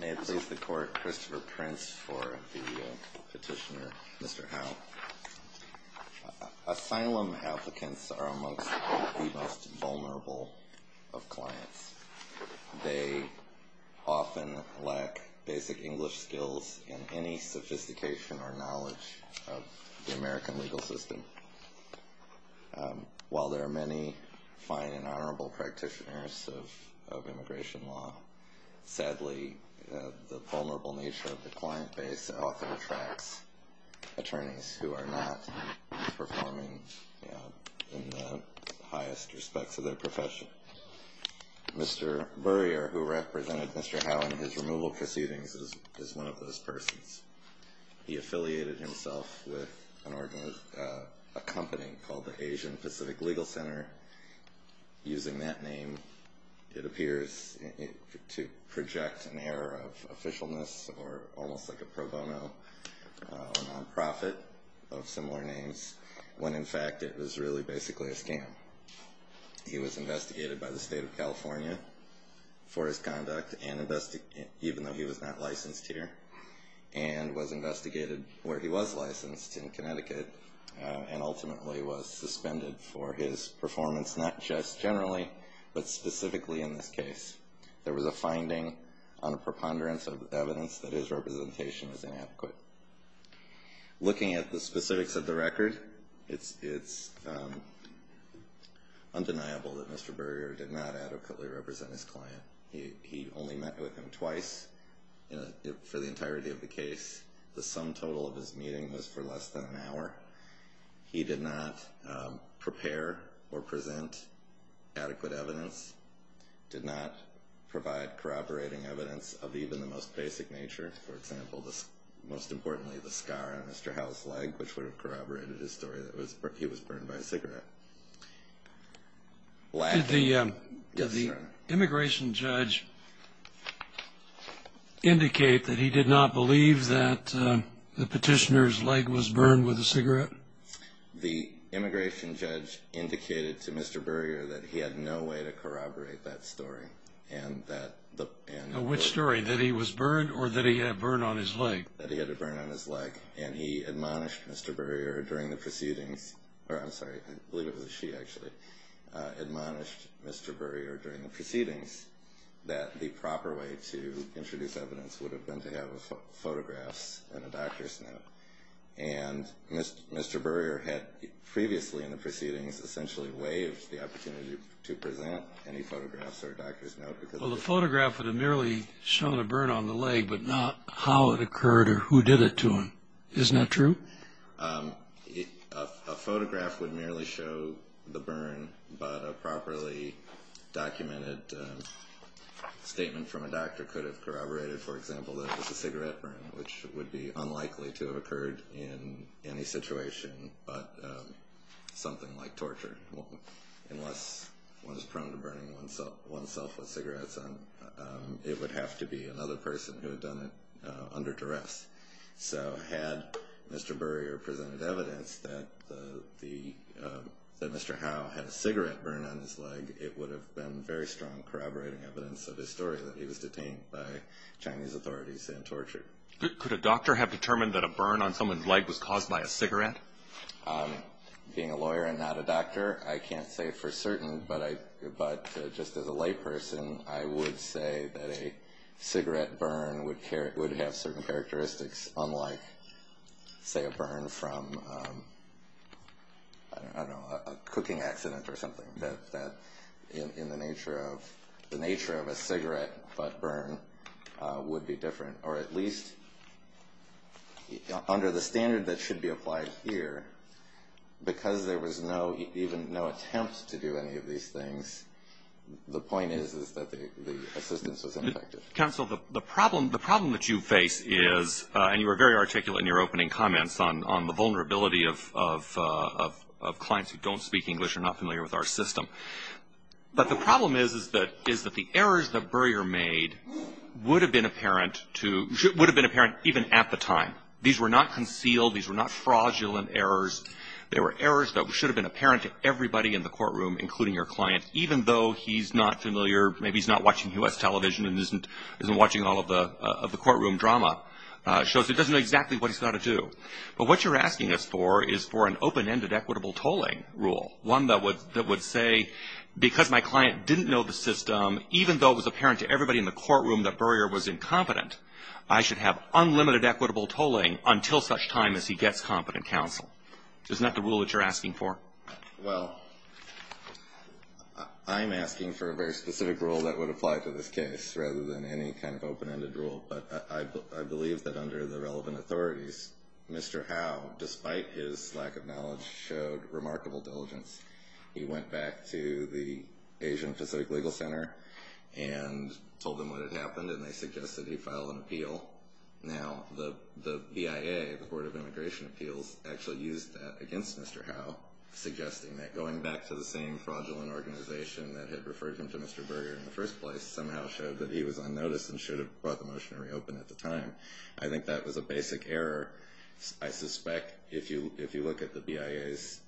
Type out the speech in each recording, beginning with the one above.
May it please the court, Christopher Prince for the petitioner, Mr. Howe. Asylum applicants are amongst the most vulnerable of clients. They often lack basic English skills and any sophistication or knowledge of the American legal system. While there are many fine and honorable practitioners of immigration law, sadly, the vulnerable nature of the client base often attracts attorneys who are not performing in the highest respects of their profession. Mr. Burrier, who represented Mr. Howe in his removal proceedings, is one of those persons. He affiliated himself with a company called the Asian Pacific Legal Center. Using that name, it appears to project an air of officialness or almost like a pro bono nonprofit of similar names, when in fact it was really basically a scam. He was investigated by the state of California for his conduct, even though he was not licensed here, and was investigated where he was licensed, in Connecticut, and ultimately was suspended for his performance, not just generally, but specifically in this case. There was a finding on a preponderance of evidence that his representation was inadequate. Looking at the specifics of the record, it's undeniable that Mr. Burrier did not adequately represent his client. He only met with him twice for the entirety of the case. The sum total of his meeting was for less than an hour. He did not prepare or present adequate evidence, did not provide corroborating evidence of even the most basic nature. For example, most importantly, the scar on Mr. Howe's leg, which would have corroborated his story that he was burned by a cigarette. Did the immigration judge indicate that he did not believe that the petitioner's leg was burned with a cigarette? The immigration judge indicated to Mr. Burrier that he had no way to corroborate that story. Which story, that he was burned, or that he had a burn on his leg? That he had a burn on his leg, and he admonished Mr. Burrier during the proceedings. I'm sorry, I believe it was she, actually, admonished Mr. Burrier during the proceedings that the proper way to introduce evidence would have been to have photographs and a doctor's note. And Mr. Burrier had previously in the proceedings essentially waived the opportunity to present any photographs or doctor's note. Well, the photograph would have merely shown a burn on the leg, but not how it occurred or who did it to him. Isn't that true? A photograph would merely show the burn, but a properly documented statement from a doctor could have corroborated, for example, that it was a cigarette burn, which would be unlikely to have occurred in any situation but something like torture. Unless one is prone to burning oneself with cigarettes on, it would have to be another person who had done it under duress. So had Mr. Burrier presented evidence that Mr. Howe had a cigarette burn on his leg, it would have been very strong corroborating evidence of his story that he was detained by Chinese authorities and tortured. Could a doctor have determined that a burn on someone's leg was caused by a cigarette? Being a lawyer and not a doctor, I can't say for certain. But just as a layperson, I would say that a cigarette burn would have certain characteristics, unlike, say, a burn from, I don't know, a cooking accident or something, that in the nature of a cigarette butt burn would be different. Or at least under the standard that should be applied here, because there was even no attempt to do any of these things, the point is that the assistance was ineffective. Counsel, the problem that you face is, and you were very articulate in your opening comments on the vulnerability of clients who don't speak English or are not familiar with our system, but the problem is that the errors that Burrier made would have been apparent even at the time. These were not concealed. These were not fraudulent errors. They were errors that should have been apparent to everybody in the courtroom, including your client, even though he's not familiar, maybe he's not watching U.S. television and isn't watching all of the courtroom drama shows. He doesn't know exactly what he's got to do. But what you're asking us for is for an open-ended equitable tolling rule, one that would say, because my client didn't know the system, even though it was apparent to everybody in the courtroom that Burrier was incompetent, I should have unlimited equitable tolling until such time as he gets competent counsel. Isn't that the rule that you're asking for? Well, I'm asking for a very specific rule that would apply to this case rather than any kind of open-ended rule. But I believe that under the relevant authorities, Mr. Howe, despite his lack of knowledge, showed remarkable diligence. He went back to the Asian Pacific Legal Center and told them what had happened, and they suggested he file an appeal. Now the BIA, the Board of Immigration Appeals, actually used that against Mr. Howe, suggesting that going back to the same fraudulent organization that had referred him to Mr. Burrier in the first place somehow showed that he was unnoticed and should have brought the motion to reopen at the time. I think that was a basic error. I suspect if you look at the BIA's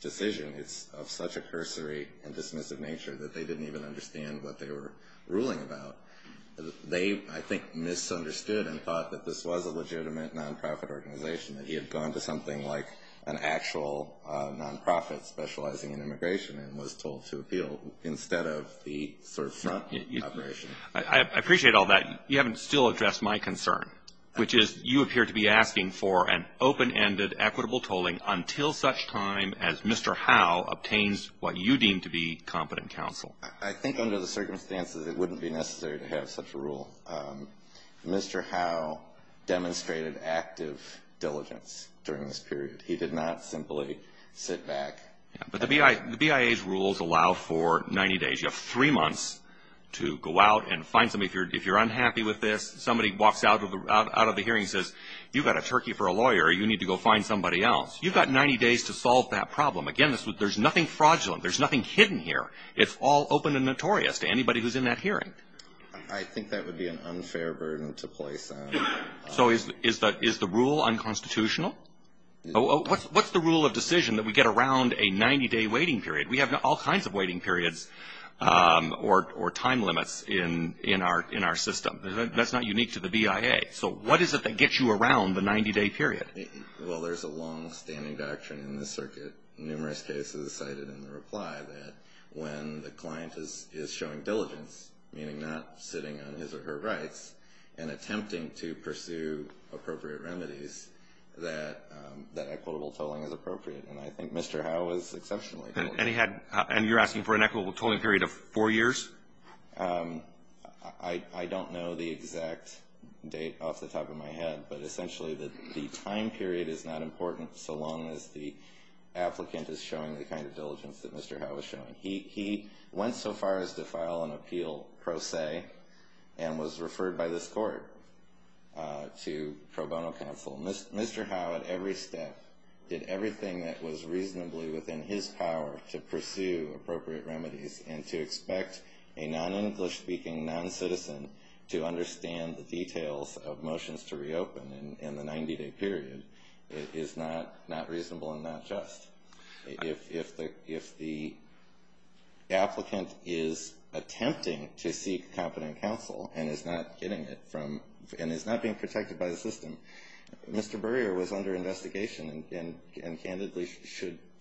decision, it's of such a cursory and dismissive nature that they didn't even understand what they were ruling about. They, I think, misunderstood and thought that this was a legitimate nonprofit organization, that he had gone to something like an actual nonprofit specializing in immigration and was told to appeal instead of the sort of front operation. I appreciate all that. You haven't still addressed my concern, which is you appear to be asking for an open-ended, equitable tolling until such time as Mr. Howe obtains what you deem to be competent counsel. I think under the circumstances it wouldn't be necessary to have such a rule. Mr. Howe demonstrated active diligence during this period. He did not simply sit back. But the BIA's rules allow for 90 days. You have three months to go out and find somebody if you're unhappy with this. Somebody walks out of the hearing and says, you've got a turkey for a lawyer. You need to go find somebody else. You've got 90 days to solve that problem. Again, there's nothing fraudulent. There's nothing hidden here. It's all open and notorious to anybody who's in that hearing. I think that would be an unfair burden to place on. So is the rule unconstitutional? What's the rule of decision that we get around a 90-day waiting period? We have all kinds of waiting periods or time limits in our system. That's not unique to the BIA. So what is it that gets you around the 90-day period? Well, there's a long-standing doctrine in this circuit. Numerous cases cited in the reply that when the client is showing diligence, meaning not sitting on his or her rights and attempting to pursue appropriate remedies, that equitable tolling is appropriate. And I think Mr. Howe was exceptionally diligent. And you're asking for an equitable tolling period of four years? I don't know the exact date off the top of my head. But essentially the time period is not important so long as the applicant is showing the kind of diligence that Mr. Howe was showing. He went so far as to file an appeal pro se and was referred by this court to pro bono counsel. Mr. Howe at every step did everything that was reasonably within his power to pursue appropriate remedies and to expect a non-English-speaking non-citizen to understand the details of motions to reopen in the 90-day period. It is not reasonable and not just. If the applicant is attempting to seek competent counsel and is not getting it from and is not being protected by the system, Mr. Burrier was under investigation and candidly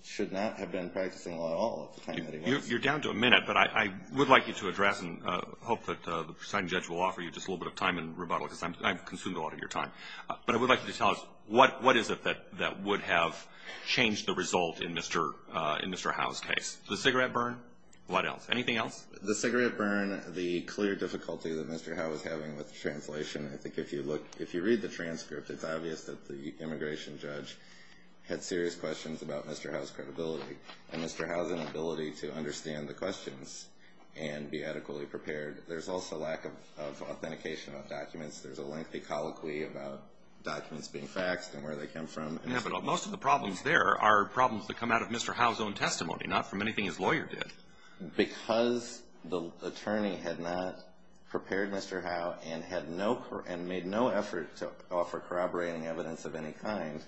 should not have been practicing law at all at the time that he was. You're down to a minute, but I would like you to address and hope that the presiding judge will offer you just a little bit of time and rebuttal because I've consumed a lot of your time. But I would like you to tell us, what is it that would have changed the result in Mr. Howe's case? The cigarette burn? What else? Anything else? The cigarette burn, the clear difficulty that Mr. Howe was having with the translation. I think if you read the transcript, it's obvious that the immigration judge had serious questions about Mr. Howe's credibility and Mr. Howe's inability to understand the questions and be adequately prepared. There's also lack of authentication of documents. There's a lengthy colloquy about documents being faxed and where they came from. Most of the problems there are problems that come out of Mr. Howe's own testimony, not from anything his lawyer did. Because the attorney had not prepared Mr. Howe and made no effort to offer corroborating evidence of any kind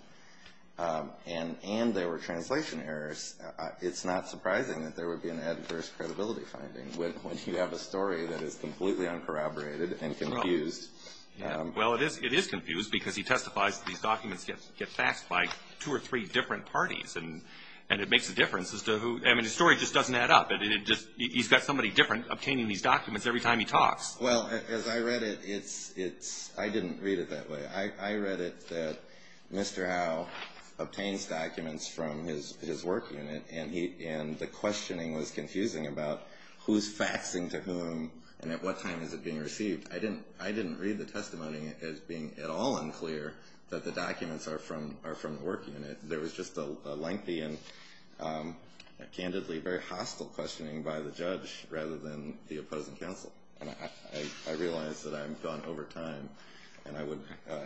and there were translation errors, it's not surprising that there would be an adverse credibility finding when you have a story that is completely uncorroborated and confused. Well, it is confused because he testifies that these documents get faxed by two or three different parties and it makes a difference as to who. I mean, the story just doesn't add up. He's got somebody different obtaining these documents every time he talks. Well, as I read it, I didn't read it that way. I read it that Mr. Howe obtains documents from his work unit and the questioning was confusing about who's faxing to whom and at what time is it being received. I didn't read the testimony as being at all unclear that the documents are from the work unit. There was just a lengthy and candidly very hostile questioning by the judge rather than the opposing counsel. And I realize that I've gone over time and I would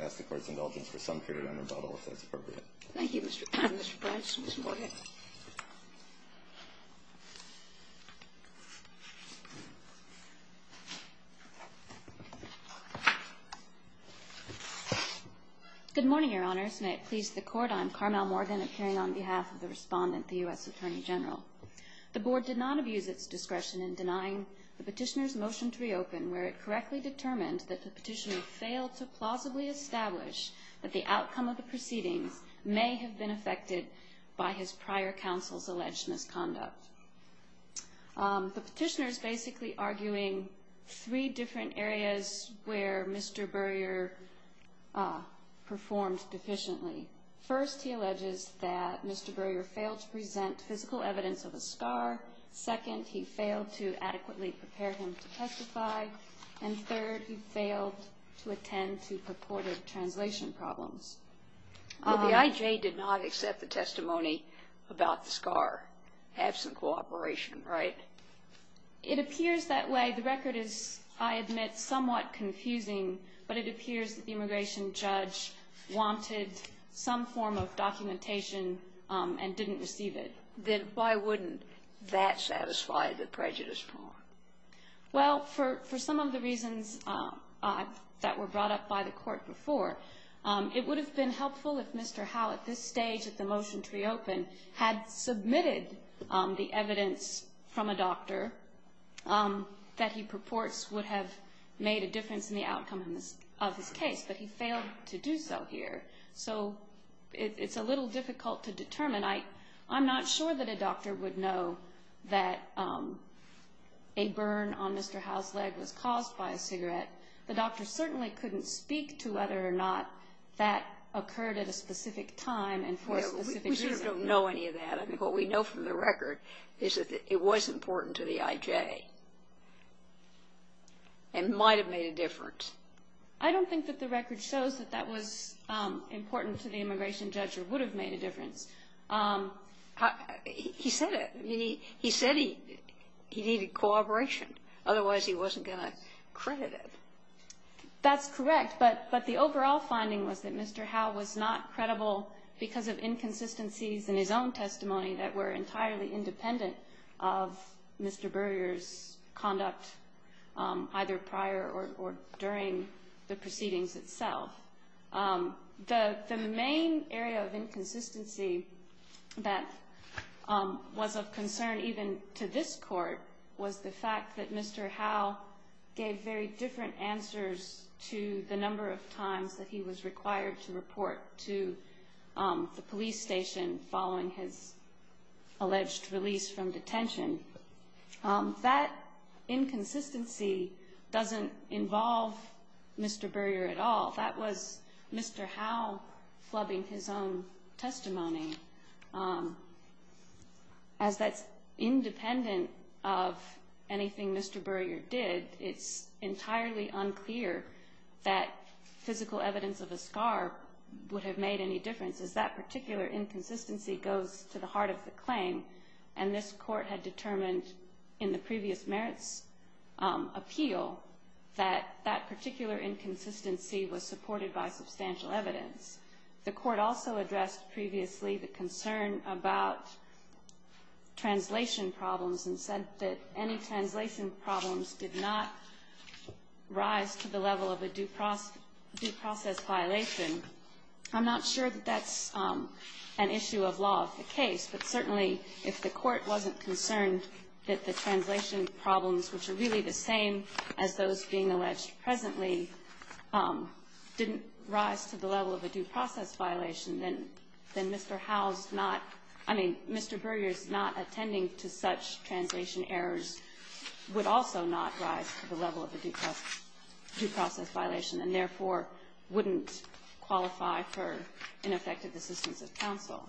ask the Court's indulgence for some period on rebuttal if that's appropriate. Thank you, Mr. Price. Ms. Morgan. Good morning, Your Honors. May it please the Court, I'm Carmel Morgan, appearing on behalf of the Respondent, the U.S. Attorney General. The Board did not abuse its discretion in denying the Petitioner's motion to reopen where it correctly determined that the Petitioner failed to plausibly establish that the outcome of the proceedings may have been affected by his prior counsel's alleged misconduct. The Petitioner is basically arguing three different areas where Mr. Burrier performed deficiently. First, he alleges that Mr. Burrier failed to present physical evidence of a scar. Second, he failed to adequately prepare him to testify. And third, he failed to attend to purported translation problems. Well, the IJ did not accept the testimony about the scar, absent cooperation, right? It appears that way. The record is, I admit, somewhat confusing, but it appears that the immigration judge wanted some form of documentation and didn't receive it. Then why wouldn't that satisfy the prejudice form? Well, for some of the reasons that were brought up by the Court before, it would have been helpful if Mr. Howe, at this stage of the motion to reopen, had submitted the evidence from a doctor that he purports would have made a difference in the outcome of his case, but he failed to do so here. So it's a little difficult to determine. And I'm not sure that a doctor would know that a burn on Mr. Howe's leg was caused by a cigarette. The doctor certainly couldn't speak to whether or not that occurred at a specific time and for a specific reason. We sort of don't know any of that. I think what we know from the record is that it was important to the IJ and might have made a difference. I don't think that the record shows that that was important to the immigration judge or would have made a difference. He said it. He said he needed cooperation. Otherwise, he wasn't going to credit it. That's correct. But the overall finding was that Mr. Howe was not credible because of inconsistencies in his own testimony that were entirely independent of Mr. Burrier's conduct either prior or during the proceedings itself. The main area of inconsistency that was of concern even to this court was the fact that Mr. Howe gave very different answers to the number of times that he was required to report to the police station following his alleged release from detention. That inconsistency doesn't involve Mr. Burrier at all. That was Mr. Howe flubbing his own testimony. As that's independent of anything Mr. Burrier did, it's entirely unclear that physical evidence of a scar would have made any difference as that particular inconsistency goes to the heart of the claim. And this court had determined in the previous merits appeal that that particular inconsistency was supported by substantial evidence. The court also addressed previously the concern about translation problems and said that any translation problems did not rise to the level of a due process violation. I'm not sure that that's an issue of law of the case, but certainly if the court wasn't concerned that the translation problems, which are really the same as those being alleged presently, didn't rise to the level of a due process violation, then Mr. Howe's not — I mean, Mr. Burrier's not attending to such translation errors would also not rise to the level of a due process violation and therefore wouldn't qualify for ineffective assistance of counsel.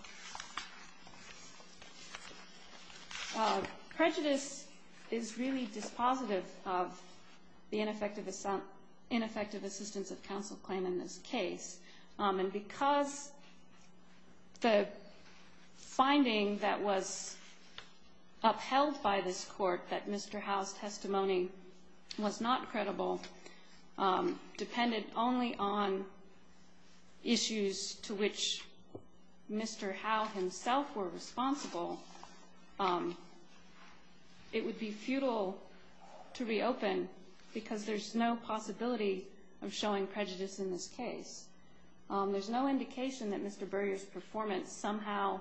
Prejudice is really dispositive of the ineffective assistance of counsel claim in this case. And because the finding that was upheld by this court that Mr. Howe's testimony was not credible depended only on issues to which Mr. Howe himself were responsible, it would be futile to reopen because there's no possibility of showing prejudice in this case. There's no indication that Mr. Burrier's performance somehow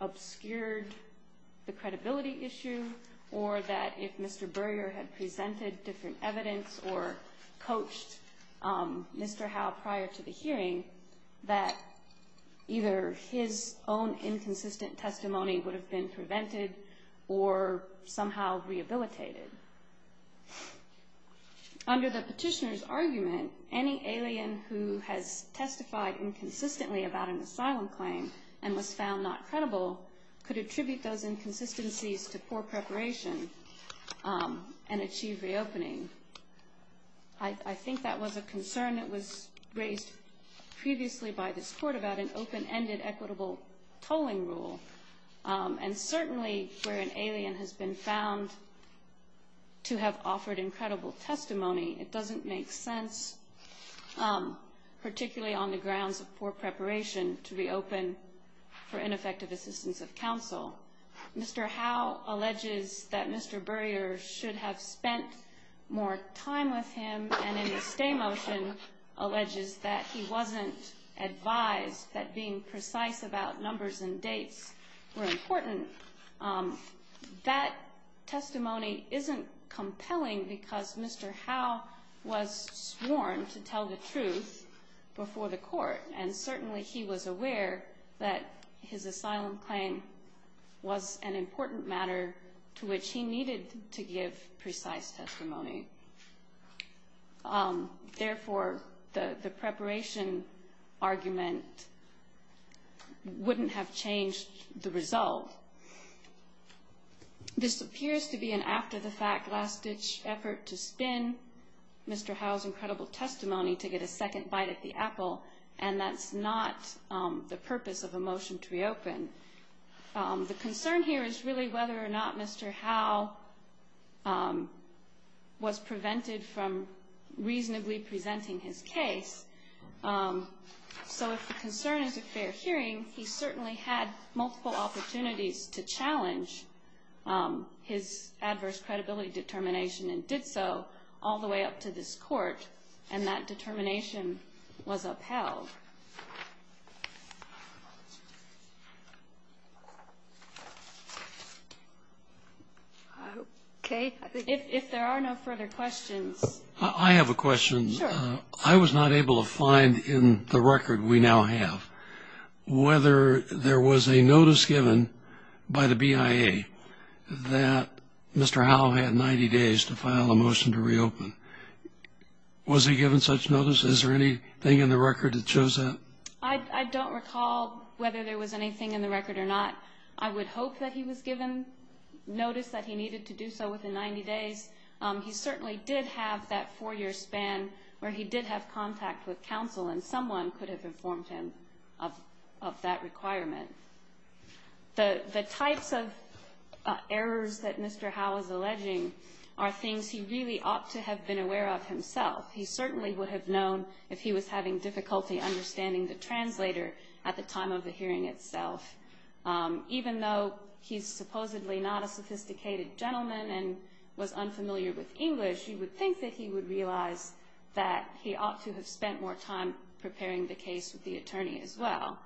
obscured the credibility issue or that if Mr. Burrier had presented different evidence or coached Mr. Howe prior to the hearing, that either his own inconsistent testimony would have been prevented or somehow rehabilitated. Under the petitioner's argument, any alien who has testified inconsistently about an asylum claim and was found not credible could attribute those inconsistencies to poor preparation and achieve reopening. I think that was a concern that was raised previously by this court about an open-ended equitable tolling rule. And certainly where an alien has been found to have offered incredible testimony, it doesn't make sense, particularly on the grounds of poor preparation, to reopen for ineffective assistance of counsel. Mr. Howe alleges that Mr. Burrier should have spent more time with him, and in the stay motion alleges that he wasn't advised that being precise about numbers and dates were important. That testimony isn't compelling because Mr. Howe was sworn to tell the truth before the court, and certainly he was aware that his asylum claim was an important matter to which he needed to give precise testimony. Therefore, the preparation argument wouldn't have changed the result. This appears to be an after-the-fact, last-ditch effort to spin Mr. Howe's incredible testimony to get a second bite at the apple, and that's not the purpose of a motion to reopen. The concern here is really whether or not Mr. Howe was prevented from reasonably presenting his case. So if the concern is a fair hearing, he certainly had multiple opportunities to challenge his adverse credibility determination and did so all the way up to this court, and that determination was upheld. Okay. If there are no further questions. I have a question. Sure. I was not able to find in the record we now have whether there was a notice given by the BIA that Mr. Howe had 90 days to file a motion to reopen. Was he given such notice? Is there anything in the record that shows that? I don't recall whether there was anything in the record or not. I would hope that he was given notice that he needed to do so within 90 days. He certainly did have that four-year span where he did have contact with counsel, and someone could have informed him of that requirement. The types of errors that Mr. Howe is alleging are things he really ought to have been aware of himself. He certainly would have known if he was having difficulty understanding the translator at the time of the hearing itself. Even though he's supposedly not a sophisticated gentleman and was unfamiliar with English, you would think that he would realize that he ought to have spent more time preparing the case with the attorney as well.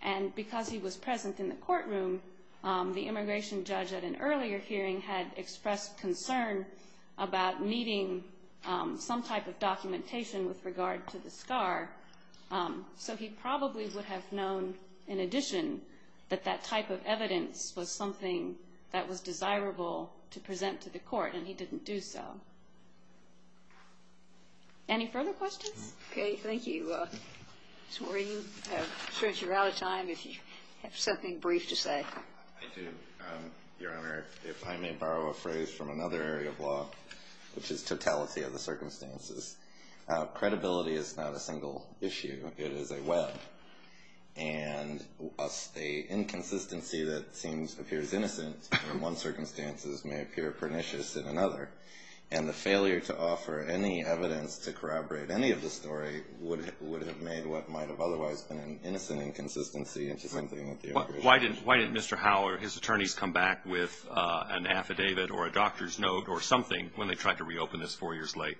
And because he was present in the courtroom, the immigration judge at an earlier hearing had expressed concern about needing some type of documentation with regard to the SCAR. So he probably would have known, in addition, that that type of evidence was something that was desirable to present to the court, and he didn't do so. Any further questions? Okay. Thank you. I'm sure you're out of time. If you have something brief to say. I do, Your Honor. If I may borrow a phrase from another area of law, which is totality of the circumstances. Credibility is not a single issue. It is a web. And a inconsistency that seems to appear as innocent in one circumstance may appear pernicious in another. And the failure to offer any evidence to corroborate any of the story would have made what might have otherwise been an innocent inconsistency. Why didn't Mr. Howell or his attorneys come back with an affidavit or a doctor's note or something when they tried to reopen this four years late?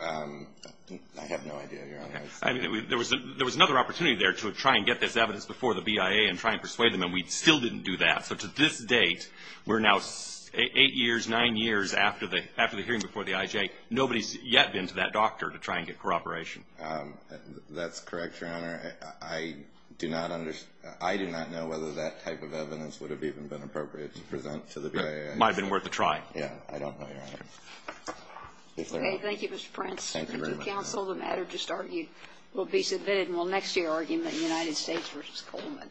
I have no idea, Your Honor. There was another opportunity there to try and get this evidence before the BIA and try and persuade them, and we still didn't do that. So to this date, we're now eight years, nine years after the hearing before the IJ. Nobody's yet been to that doctor to try and get corroboration. That's correct, Your Honor. I do not know whether that type of evidence would have even been appropriate to present to the BIA. It might have been worth a try. Yeah. I don't know, Your Honor. Thank you, Mr. Prentz. Thank you very much. The matter just argued will be submitted and will next year argument in the United States v. Coleman.